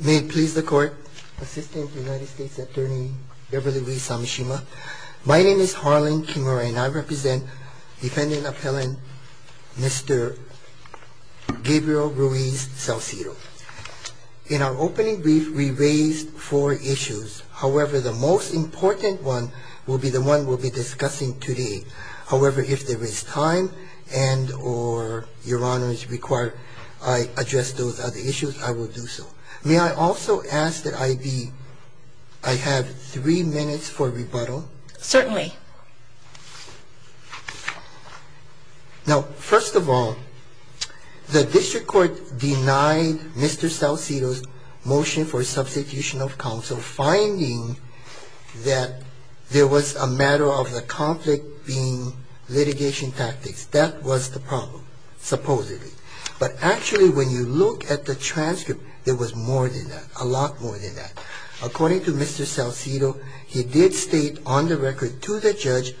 May it please the court, Assistant United States Attorney Beverly Louise Samishima. My name is Harlan Kimura and I represent defendant appellant Mr. Gabriel Ruiz Salcedo. In our opening brief, we raised four issues. However, the most important one will be the one we'll be discussing today. However, if there is time and or Your Honor is required, I address those other issues, I will do so. May I also ask that I be I have three minutes for rebuttal. Certainly. Now, first of all, the district court denied Mr. Salcedo's motion for substitution of counsel, finding that there was a matter of the conflict being litigation tactics. That was the problem, supposedly. But actually, when you look at the transcript, there was more than that, a lot more than that. According to Mr. Salcedo, he did state on the record to the judge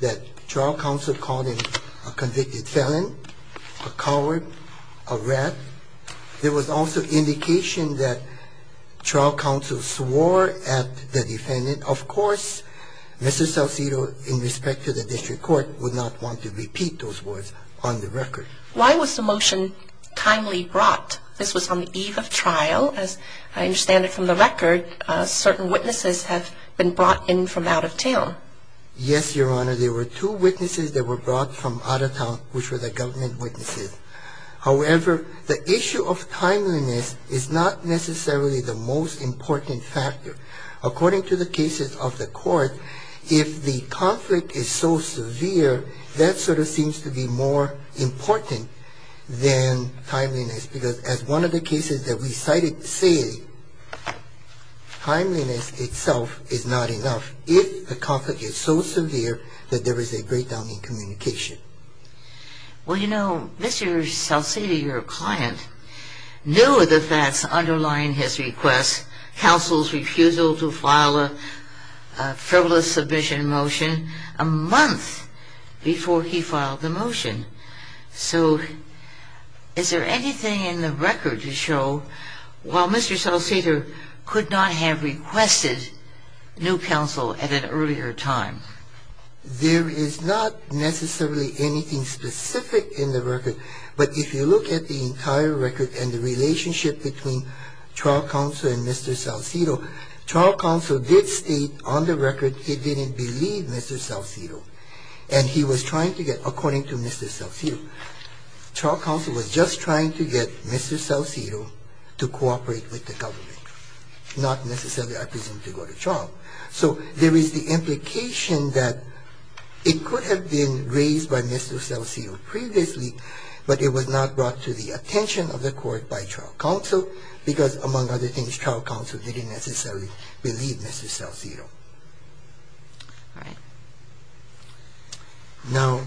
that trial counsel called him a convicted felon, a coward, a rat. There was also indication that trial counsel swore at the defendant. Of course, Mr. Salcedo, in respect to the district court, would not want to repeat those words on the record. Why was the motion timely brought? This was on the eve of trial. As I understand it from the record, certain witnesses have been brought in from out of town. Yes, Your Honor, there were two witnesses that were brought from out of town, which were the government witnesses. However, the issue of timeliness is not necessarily the most important factor. According to the cases of the court, if the conflict is so severe, that sort of seems to be more important than timeliness, because as one of the cases that we cited say, timeliness itself is not enough if the conflict is so severe. Well, you know, Mr. Salcedo, your client, knew of the facts underlying his request, counsel's refusal to file a frivolous submission motion, a month before he filed the motion. So is there anything in the record to show, while Mr. Salcedo could not have requested new counsel at an earlier time, there is not necessarily anything specific in the record. But if you look at the entire record and the relationship between trial counsel and Mr. Salcedo, trial counsel did state on the record he didn't believe Mr. Salcedo, and he was trying to get, according to Mr. Salcedo, trial counsel was just trying to get Mr. Salcedo to cooperate with the government, not necessarily, I presume, to go to trial. So there is the implication that it could have been raised by Mr. Salcedo previously, but it was not brought to the attention of the court by trial counsel, because among other things, trial counsel didn't necessarily believe Mr. Salcedo. Now,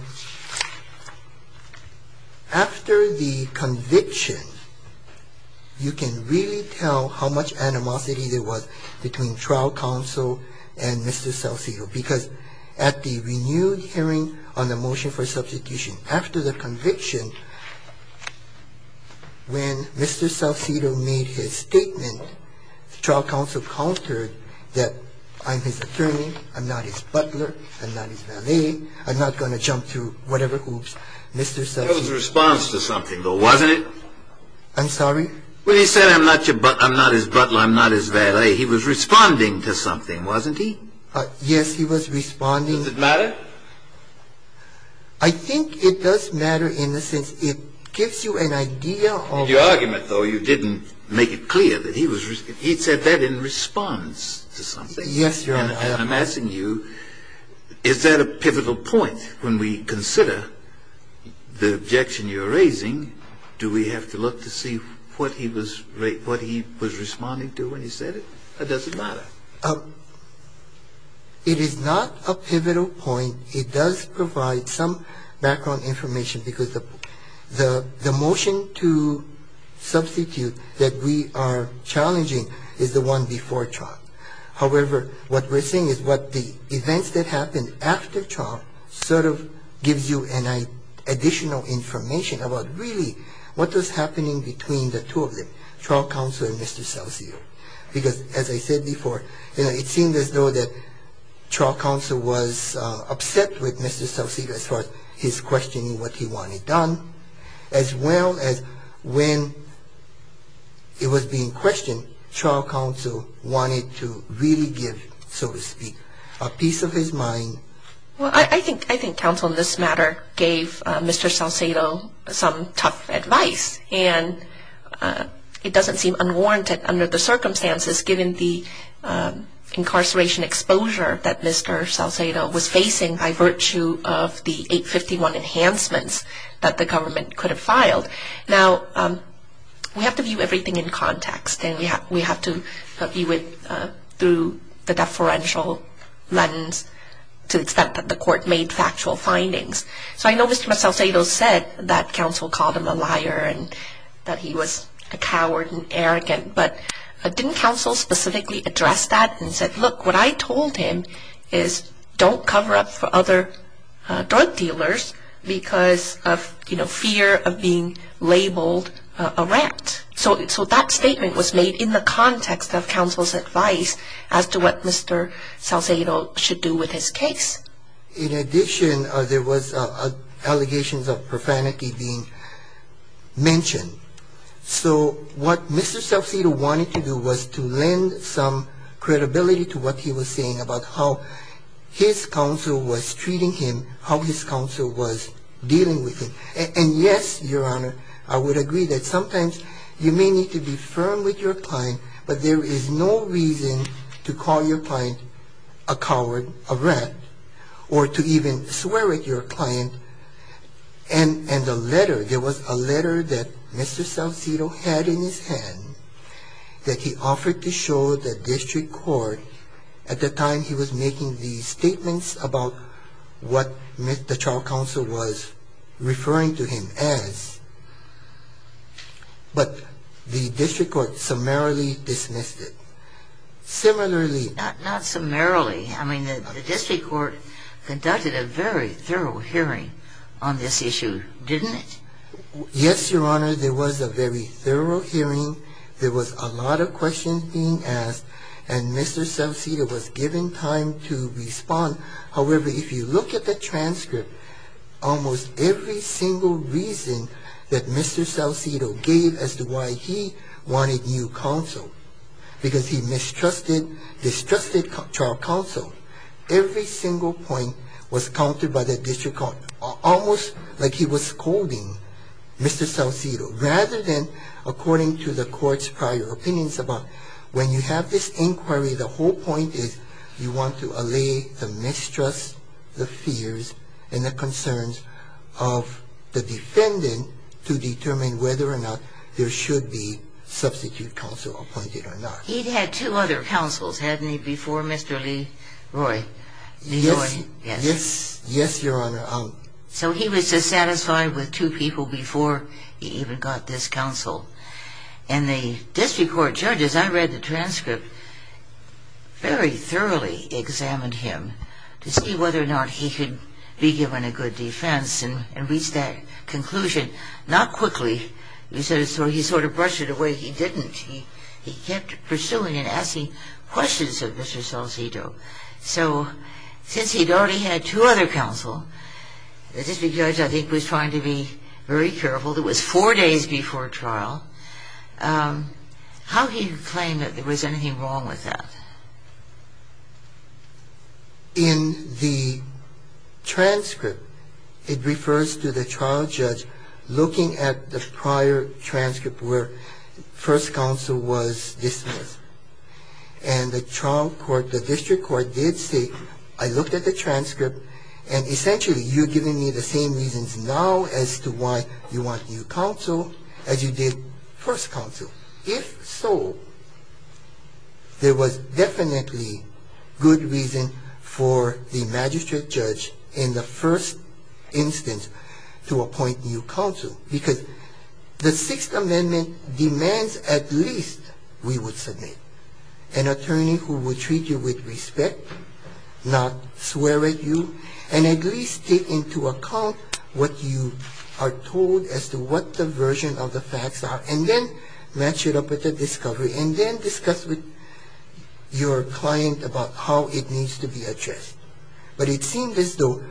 after the conviction, you can really tell how much animosity there was between trial counsel and Mr. Salcedo, because at the renewed hearing on the motion for substitution, after the conviction, when Mr. Salcedo made his statement, trial counsel countered that I'm his attorney, I'm not his butler, I'm not his valet, I'm not going to jump to whatever hoops Mr. Salcedo. That was a response to something, though, wasn't it? I'm sorry? When he said I'm not your butler, I'm not his butler, I'm not his valet, he was responding to something, wasn't he? Yes, he was responding. Does it matter? I think it does matter in the sense it gives you an idea of the argument. But in the sense that you didn't make it clear that he was responding, he said that in response to something. Yes, Your Honor. And I'm asking you, is that a pivotal point when we consider the objection you're raising, do we have to look to see what he was responding to when he said it, or does it matter? It is not a pivotal point. I think it does provide some background information because the motion to substitute that we are challenging is the one before trial. However, what we're seeing is what the events that happened after trial sort of gives you additional information about really what was happening between the two of them, trial counsel and Mr. Salcedo. Because as I said before, you know, it seemed as though that trial counsel was upset with Mr. Salcedo as far as his questioning what he wanted done, as well as when it was being questioned, trial counsel wanted to really give, so to speak, a piece of his mind. Well, I think counsel in this matter gave Mr. Salcedo some tough advice, and it doesn't seem unwarranted under the circumstances given the incarceration exposure that Mr. Salcedo was facing by virtue of the 851 enhancements that the government could have filed. Now, we have to view everything in context, and we have to view it through the deferential lens to the extent that the court made factual findings. So I know Mr. Salcedo said that counsel called him a liar and that he was a coward and arrogant, but didn't counsel specifically address that and said, look, what I told him is don't cover up for other drug dealers because of, you know, fear of being labeled a rat. So that statement was made in the context of counsel's advice as to what Mr. Salcedo should do with his case. In addition, there was allegations of profanity being mentioned. So what Mr. Salcedo wanted to do was to lend some credibility to what he was saying about how his counsel was treating him, how his counsel was dealing with him. And, yes, Your Honor, I would agree that sometimes you may need to be firm with your reason to call your client a coward, a rat, or to even swear at your client. And the letter, there was a letter that Mr. Salcedo had in his hand that he offered to show the district court at the time he was making the statements about what the child was referring to him as, but the district court summarily dismissed it. Similarly — Not summarily. I mean, the district court conducted a very thorough hearing on this issue, didn't it? Yes, Your Honor. There was a very thorough hearing. There was a lot of questions being asked, and Mr. Salcedo was given time to respond. However, if you look at the transcript, almost every single reason that Mr. Salcedo gave as to why he wanted new counsel, because he mistrusted, distrusted child counsel, every single point was countered by the district court, almost like he was scolding Mr. Salcedo, rather than, according to the court's prior opinions about, when you have this inquiry, the whole point is you want to allay the mistrust, the fears, and the concerns of the defendant to determine whether or not there should be substitute counsel appointed or not. He'd had two other counsels, hadn't he, before Mr. Lee Roy? Yes. Yes, Your Honor. So he was dissatisfied with two people before he even got this counsel. And the district court judge, as I read the transcript, very thoroughly examined him to see whether or not he could be given a good defense and reach that conclusion, not quickly. He sort of brushed it away. He didn't. He kept pursuing and asking questions of Mr. Salcedo. So since he'd already had two other counsel, the district judge, I think, was trying to be very careful. It was four days before trial. How he claimed that there was anything wrong with that. In the transcript, it refers to the trial judge looking at the prior transcript where first counsel was dismissed. And the trial court, the district court did say, I looked at the transcript, and essentially you're giving me the same reasons now as to why you want new counsel as you did first counsel. If so, there was definitely good reason for the magistrate judge in the first instance to appoint new counsel. Because the Sixth Amendment demands at least we would submit an attorney who would treat you with respect, not swear at you, and at least take into account what you are told as to what the version of the facts are. And then match it up with the discovery. And then discuss with your client about how it needs to be addressed. But it seemed as though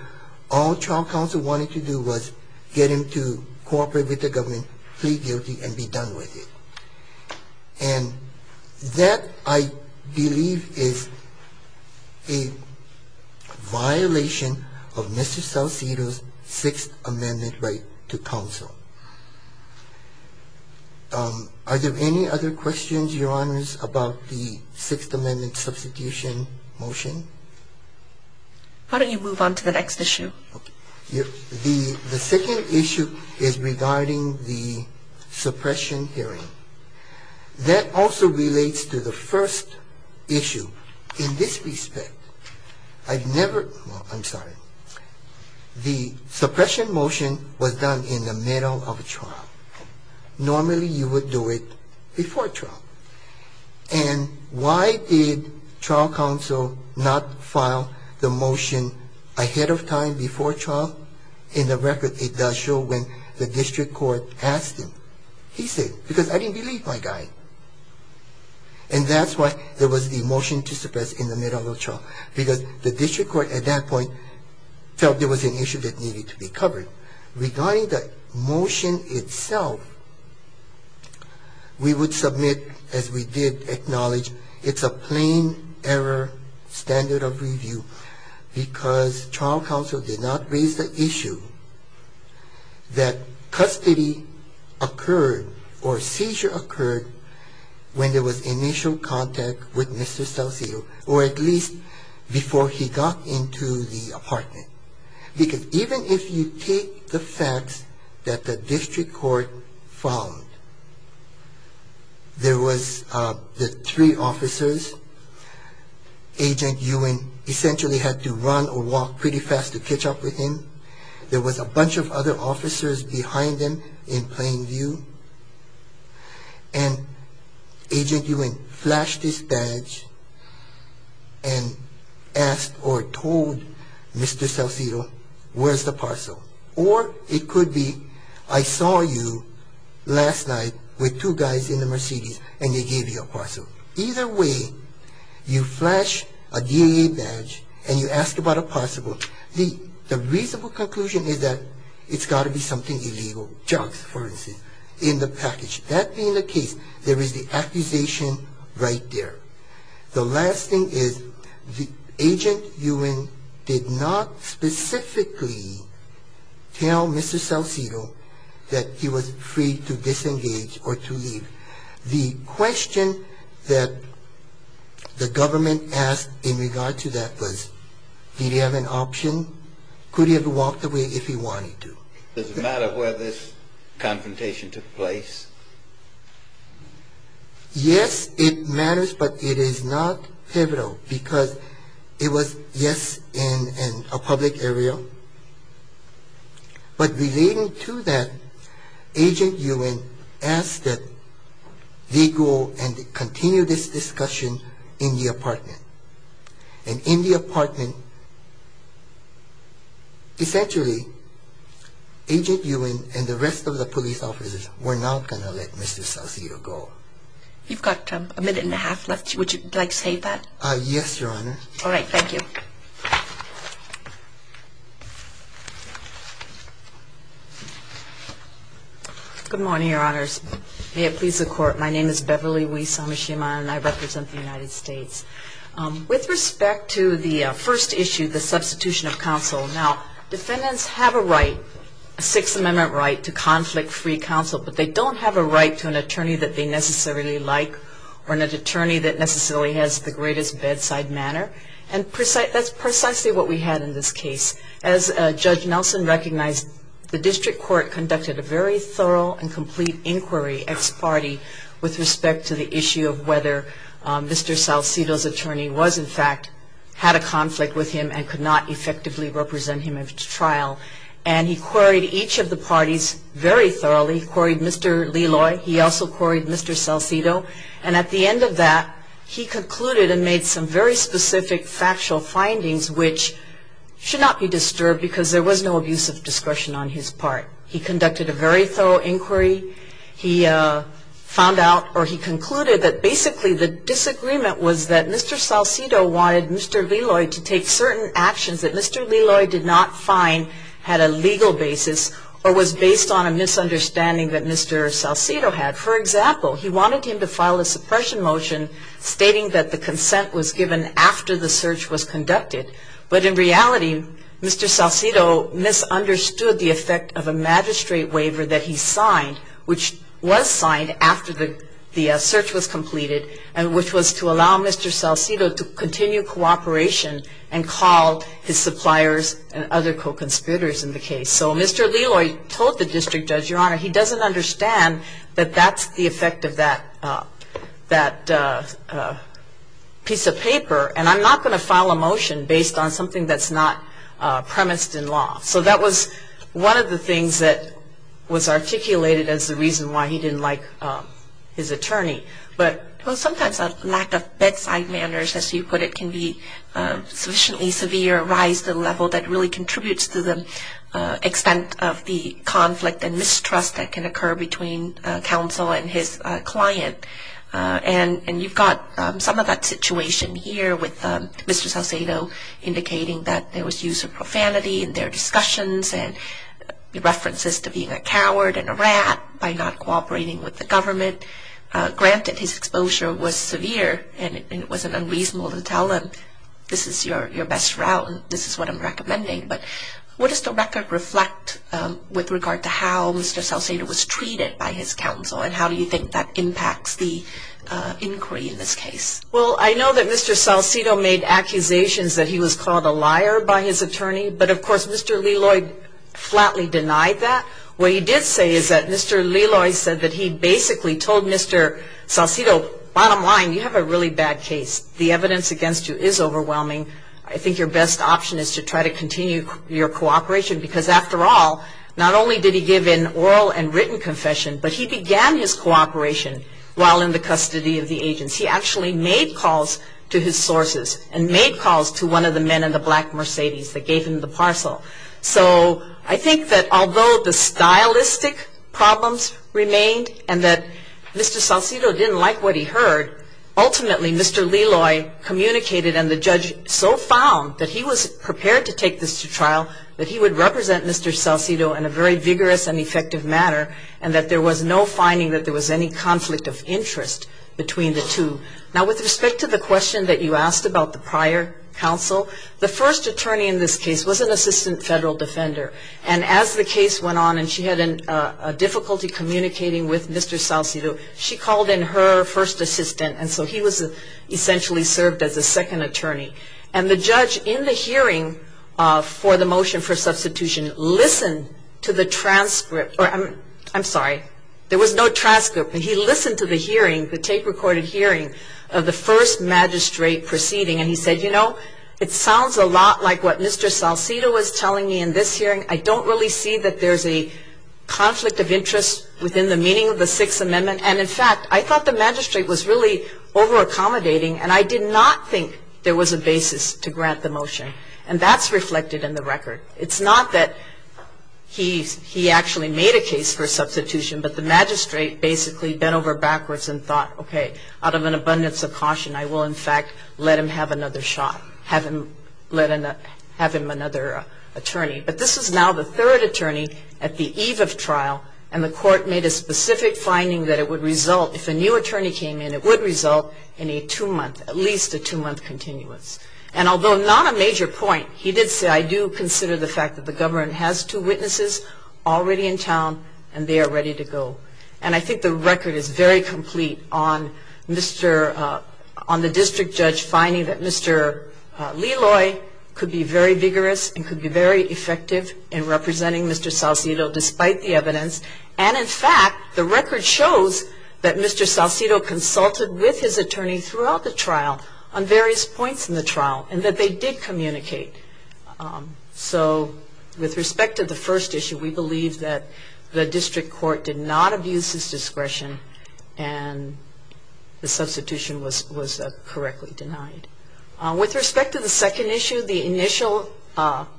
all trial counsel wanted to do was get him to cooperate with the government, plead guilty, and be done with it. And that, I believe, is a violation of Mr. Saucedo's Sixth Amendment right to counsel. Are there any other questions, Your Honors, about the Sixth Amendment substitution motion? Why don't you move on to the next issue? The second issue is regarding the suppression hearing. That also relates to the first issue. In this respect, I've never, I'm sorry, the suppression motion was done in the middle of a trial. Normally you would do it before trial. And why did trial counsel not file the motion ahead of time before trial? In the record, it does show when the district court asked him. He said, because I didn't believe my guy. And that's why there was the motion to suppress in the middle of the trial. Because the district court at that point felt there was an issue that needed to be covered. But regarding the motion itself, we would submit, as we did acknowledge, it's a plain error standard of review because trial counsel did not raise the issue that custody occurred or seizure occurred when there was initial contact with Mr. Saucedo, or at least before he got into the apartment. Because even if you take the facts that the district court found, there was the three officers. Agent Ewen essentially had to run or walk pretty fast to catch up with him. There was a bunch of other officers behind him in plain view. And Agent Ewen flashed this badge and asked or told Mr. Saucedo, where's the parcel? Or it could be, I saw you last night with two guys in the Mercedes and they gave you a parcel. Either way, you flash a DAA badge and you ask about a parcel. The reasonable conclusion is that it's got to be something illegal. Jugs, for instance, in the package. That being the case, there is the accusation right there. The last thing is Agent Ewen did not specifically tell Mr. Saucedo that he was free to disengage or to leave. The question that the government asked in regard to that was, did he have an option? Could he have walked away if he wanted to? Does it matter where this confrontation took place? Yes, it matters, but it is not pivotal because it was, yes, in a public area. But relating to that, Agent Ewen asked that they go and continue this discussion in the apartment. And in the apartment, essentially, Agent Ewen and the rest of the police officers were not going to let Mr. Saucedo go. You've got a minute and a half left. Would you like to say that? Yes, Your Honor. All right, thank you. Good morning, Your Honors. May it please the Court. My name is Beverly Wee Samashima, and I represent the United States. With respect to the first issue, the substitution of counsel, now, defendants have a right, a Sixth Amendment right, to conflict-free counsel, but they don't have a right to an attorney that they necessarily like or an attorney that necessarily has the greatest bedside manner. And that's precisely what we had in this case. As Judge Nelson recognized, the district court conducted a very thorough and complete inquiry, ex parte, with respect to the issue of whether Mr. Saucedo's attorney was, in fact, had a conflict with him and could not effectively represent him at trial. And he queried each of the parties very thoroughly. He queried Mr. Leloy. He also queried Mr. Saucedo. And at the end of that, he concluded and made some very specific factual findings, which should not be disturbed because there was no abuse of discretion on his part. He conducted a very thorough inquiry. He found out or he concluded that basically the disagreement was that Mr. Saucedo wanted Mr. Leloy to take certain actions that Mr. Leloy did not find had a legal basis or was based on a misunderstanding that Mr. Saucedo had. For example, he wanted him to file a suppression motion stating that the consent was given after the search was conducted. But in reality, Mr. Saucedo misunderstood the effect of a magistrate waiver that he signed, which was signed after the search was completed, and which was to allow Mr. Saucedo to continue cooperation and call his suppliers and other co-conspirators in the case. So Mr. Leloy told the district judge, Your Honor, he doesn't understand that that's the effect of that piece of paper, and I'm not going to file a motion based on something that's not premised in law. So that was one of the things that was articulated as the reason why he didn't like his attorney. Well, sometimes a lack of bedside manners, as you put it, can be sufficiently severe, rise to the level that really contributes to the extent of the conflict and mistrust that can occur between counsel and his client. And you've got some of that situation here with Mr. Saucedo indicating that there was use of profanity in their discussions and references to being a coward and a rat by not cooperating with the government. Granted, his exposure was severe and it wasn't unreasonable to tell him, this is your best route and this is what I'm recommending, but what does the record reflect with regard to how Mr. Saucedo was treated by his counsel and how do you think that impacts the inquiry in this case? Well, I know that Mr. Saucedo made accusations that he was called a liar by his attorney, but of course Mr. Leloy flatly denied that. What he did say is that Mr. Leloy said that he basically told Mr. Saucedo, bottom line, you have a really bad case. The evidence against you is overwhelming. I think your best option is to try to continue your cooperation because after all, not only did he give an oral and written confession, but he began his cooperation while in the custody of the agency. He actually made calls to his sources and made calls to one of the men in the black Mercedes that gave him the parcel. So I think that although the stylistic problems remained and that Mr. Saucedo didn't like what he heard, ultimately Mr. Leloy communicated and the judge so found that he was prepared to take this to trial that he would represent Mr. Saucedo in a very vigorous and effective manner and that there was no finding that there was any conflict of interest between the two. Now with respect to the question that you asked about the prior counsel, the first attorney in this case was an assistant federal defender and as the case went on and she had difficulty communicating with Mr. Saucedo, she called in her first assistant and so he was essentially served as a second attorney. And the judge in the hearing for the motion for substitution listened to the transcript, or I'm sorry, there was no transcript, but he listened to the hearing, the tape recorded hearing of the first magistrate proceeding and he said, you know, it sounds a lot like what Mr. Saucedo was telling me in this hearing. I don't really see that there's a conflict of interest within the meaning of the Sixth Amendment and in fact I thought the magistrate was really over accommodating and I did not think there was a basis to grant the motion. And that's reflected in the record. It's not that he actually made a case for substitution, but the magistrate basically bent over backwards and thought, okay, out of an abundance of caution I will in fact let him have another shot, have him another attorney. But this is now the third attorney at the eve of trial and the court made a specific finding that it would result, if a new attorney came in, it would result in a two-month, at least a two-month continuance. And although not a major point, he did say, I do consider the fact that the government has two witnesses already in town and they are ready to go. And I think the record is very complete on the district judge finding that Mr. Leloy could be very vigorous and could be very effective in representing Mr. Saucedo despite the evidence and in fact the record shows that Mr. Saucedo consulted with his attorney throughout the trial on various points in the trial and that they did communicate. So with respect to the first issue, we believe that the district court did not abuse his discretion and the substitution was correctly denied. With respect to the second issue, the initial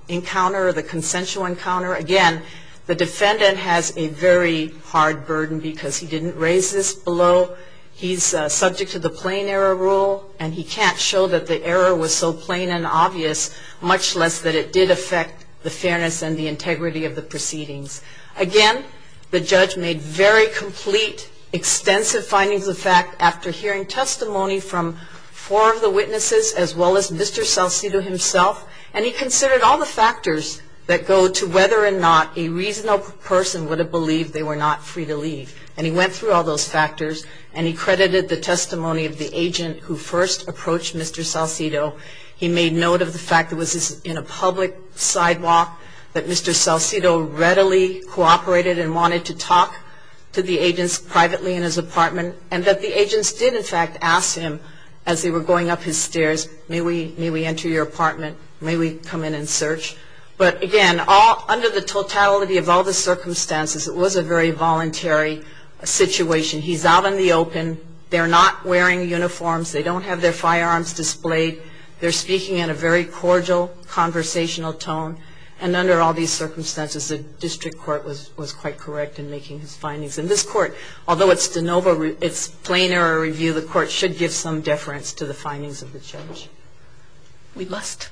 encounter, the consensual encounter, again the defendant has a very hard burden because he didn't raise this below. He's subject to the plain error rule and he can't show that the error was so plain and obvious much less that it did affect the fairness and the integrity of the proceedings. Again, the judge made very complete, extensive findings of fact after hearing testimony from four of the witnesses as well as Mr. Saucedo himself and he considered all the factors that go to whether or not a reasonable person would have believed they were not free to leave. And he went through all those factors and he credited the testimony of the agent who first approached Mr. Saucedo. He made note of the fact that it was in a public sidewalk, that Mr. Saucedo readily cooperated and wanted to talk to the agents privately in his apartment and that the agents did in fact ask him as they were going up his stairs, may we enter your apartment, may we come in and search. But again, under the totality of all the circumstances, it was a very voluntary situation. He's out in the open, they're not wearing uniforms, they don't have their firearms displayed, they're speaking in a very cordial, conversational tone and under all these circumstances, the district court was quite correct in making his findings. And this court, although it's de novo, it's plain error review, the court should give some deference to the findings of the judge. We must.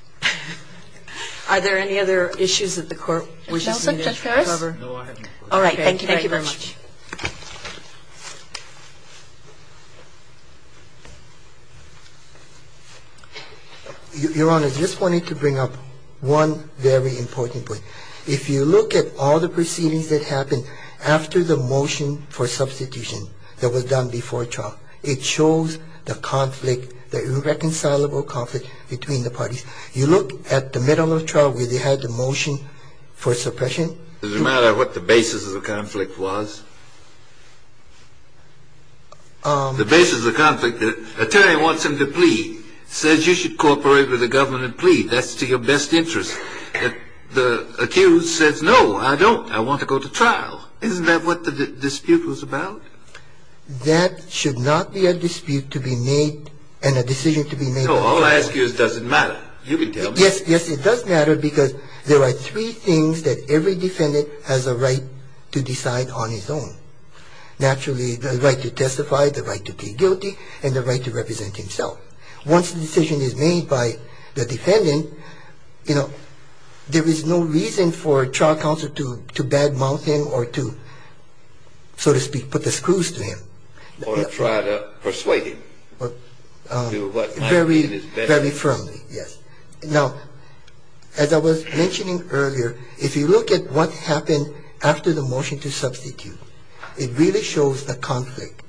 Are there any other issues that the court wishes to cover? No, I haven't. All right, thank you very much. Your Honor, I just wanted to bring up one very important point. If you look at all the proceedings that happened after the motion for substitution that was done before trial, it shows the conflict, the irreconcilable conflict between the parties. You look at the middle of trial where they had the motion for suppression. Does it matter what the basis of the conflict was? The basis of the conflict, the attorney wants him to plead, says you should cooperate with the government and plead, that's to your best interest. The accused says, no, I don't, I want to go to trial. Isn't that what the dispute was about? That should not be a dispute to be made and a decision to be made. No, all I ask you is does it matter? You can tell me. Yes, yes, it does matter because there are three things that every defendant has a right to decide on his own. Naturally, the right to testify, the right to plead guilty, and the right to represent himself. Once the decision is made by the defendant, you know, there is no reason for trial counsel to bad mouth him or to, so to speak, put the screws to him. Or try to persuade him. Very, very firmly, yes. Now, as I was mentioning earlier, if you look at what happened after the motion to substitute, it really shows the conflict.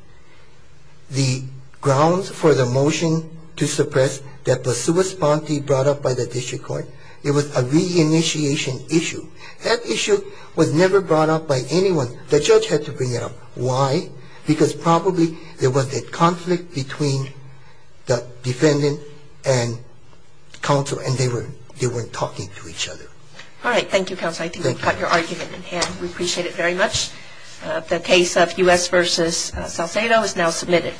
The grounds for the motion to suppress that was super spontaneously brought up by the district court, it was a reinitiation issue. That issue was never brought up by anyone. The judge had to bring it up. Why? Because probably there was a conflict between the defendant and counsel, and they weren't talking to each other. All right. Thank you, counsel. I think we've got your argument in hand. We appreciate it very much. The case of U.S. v. Salcedo is now submitted.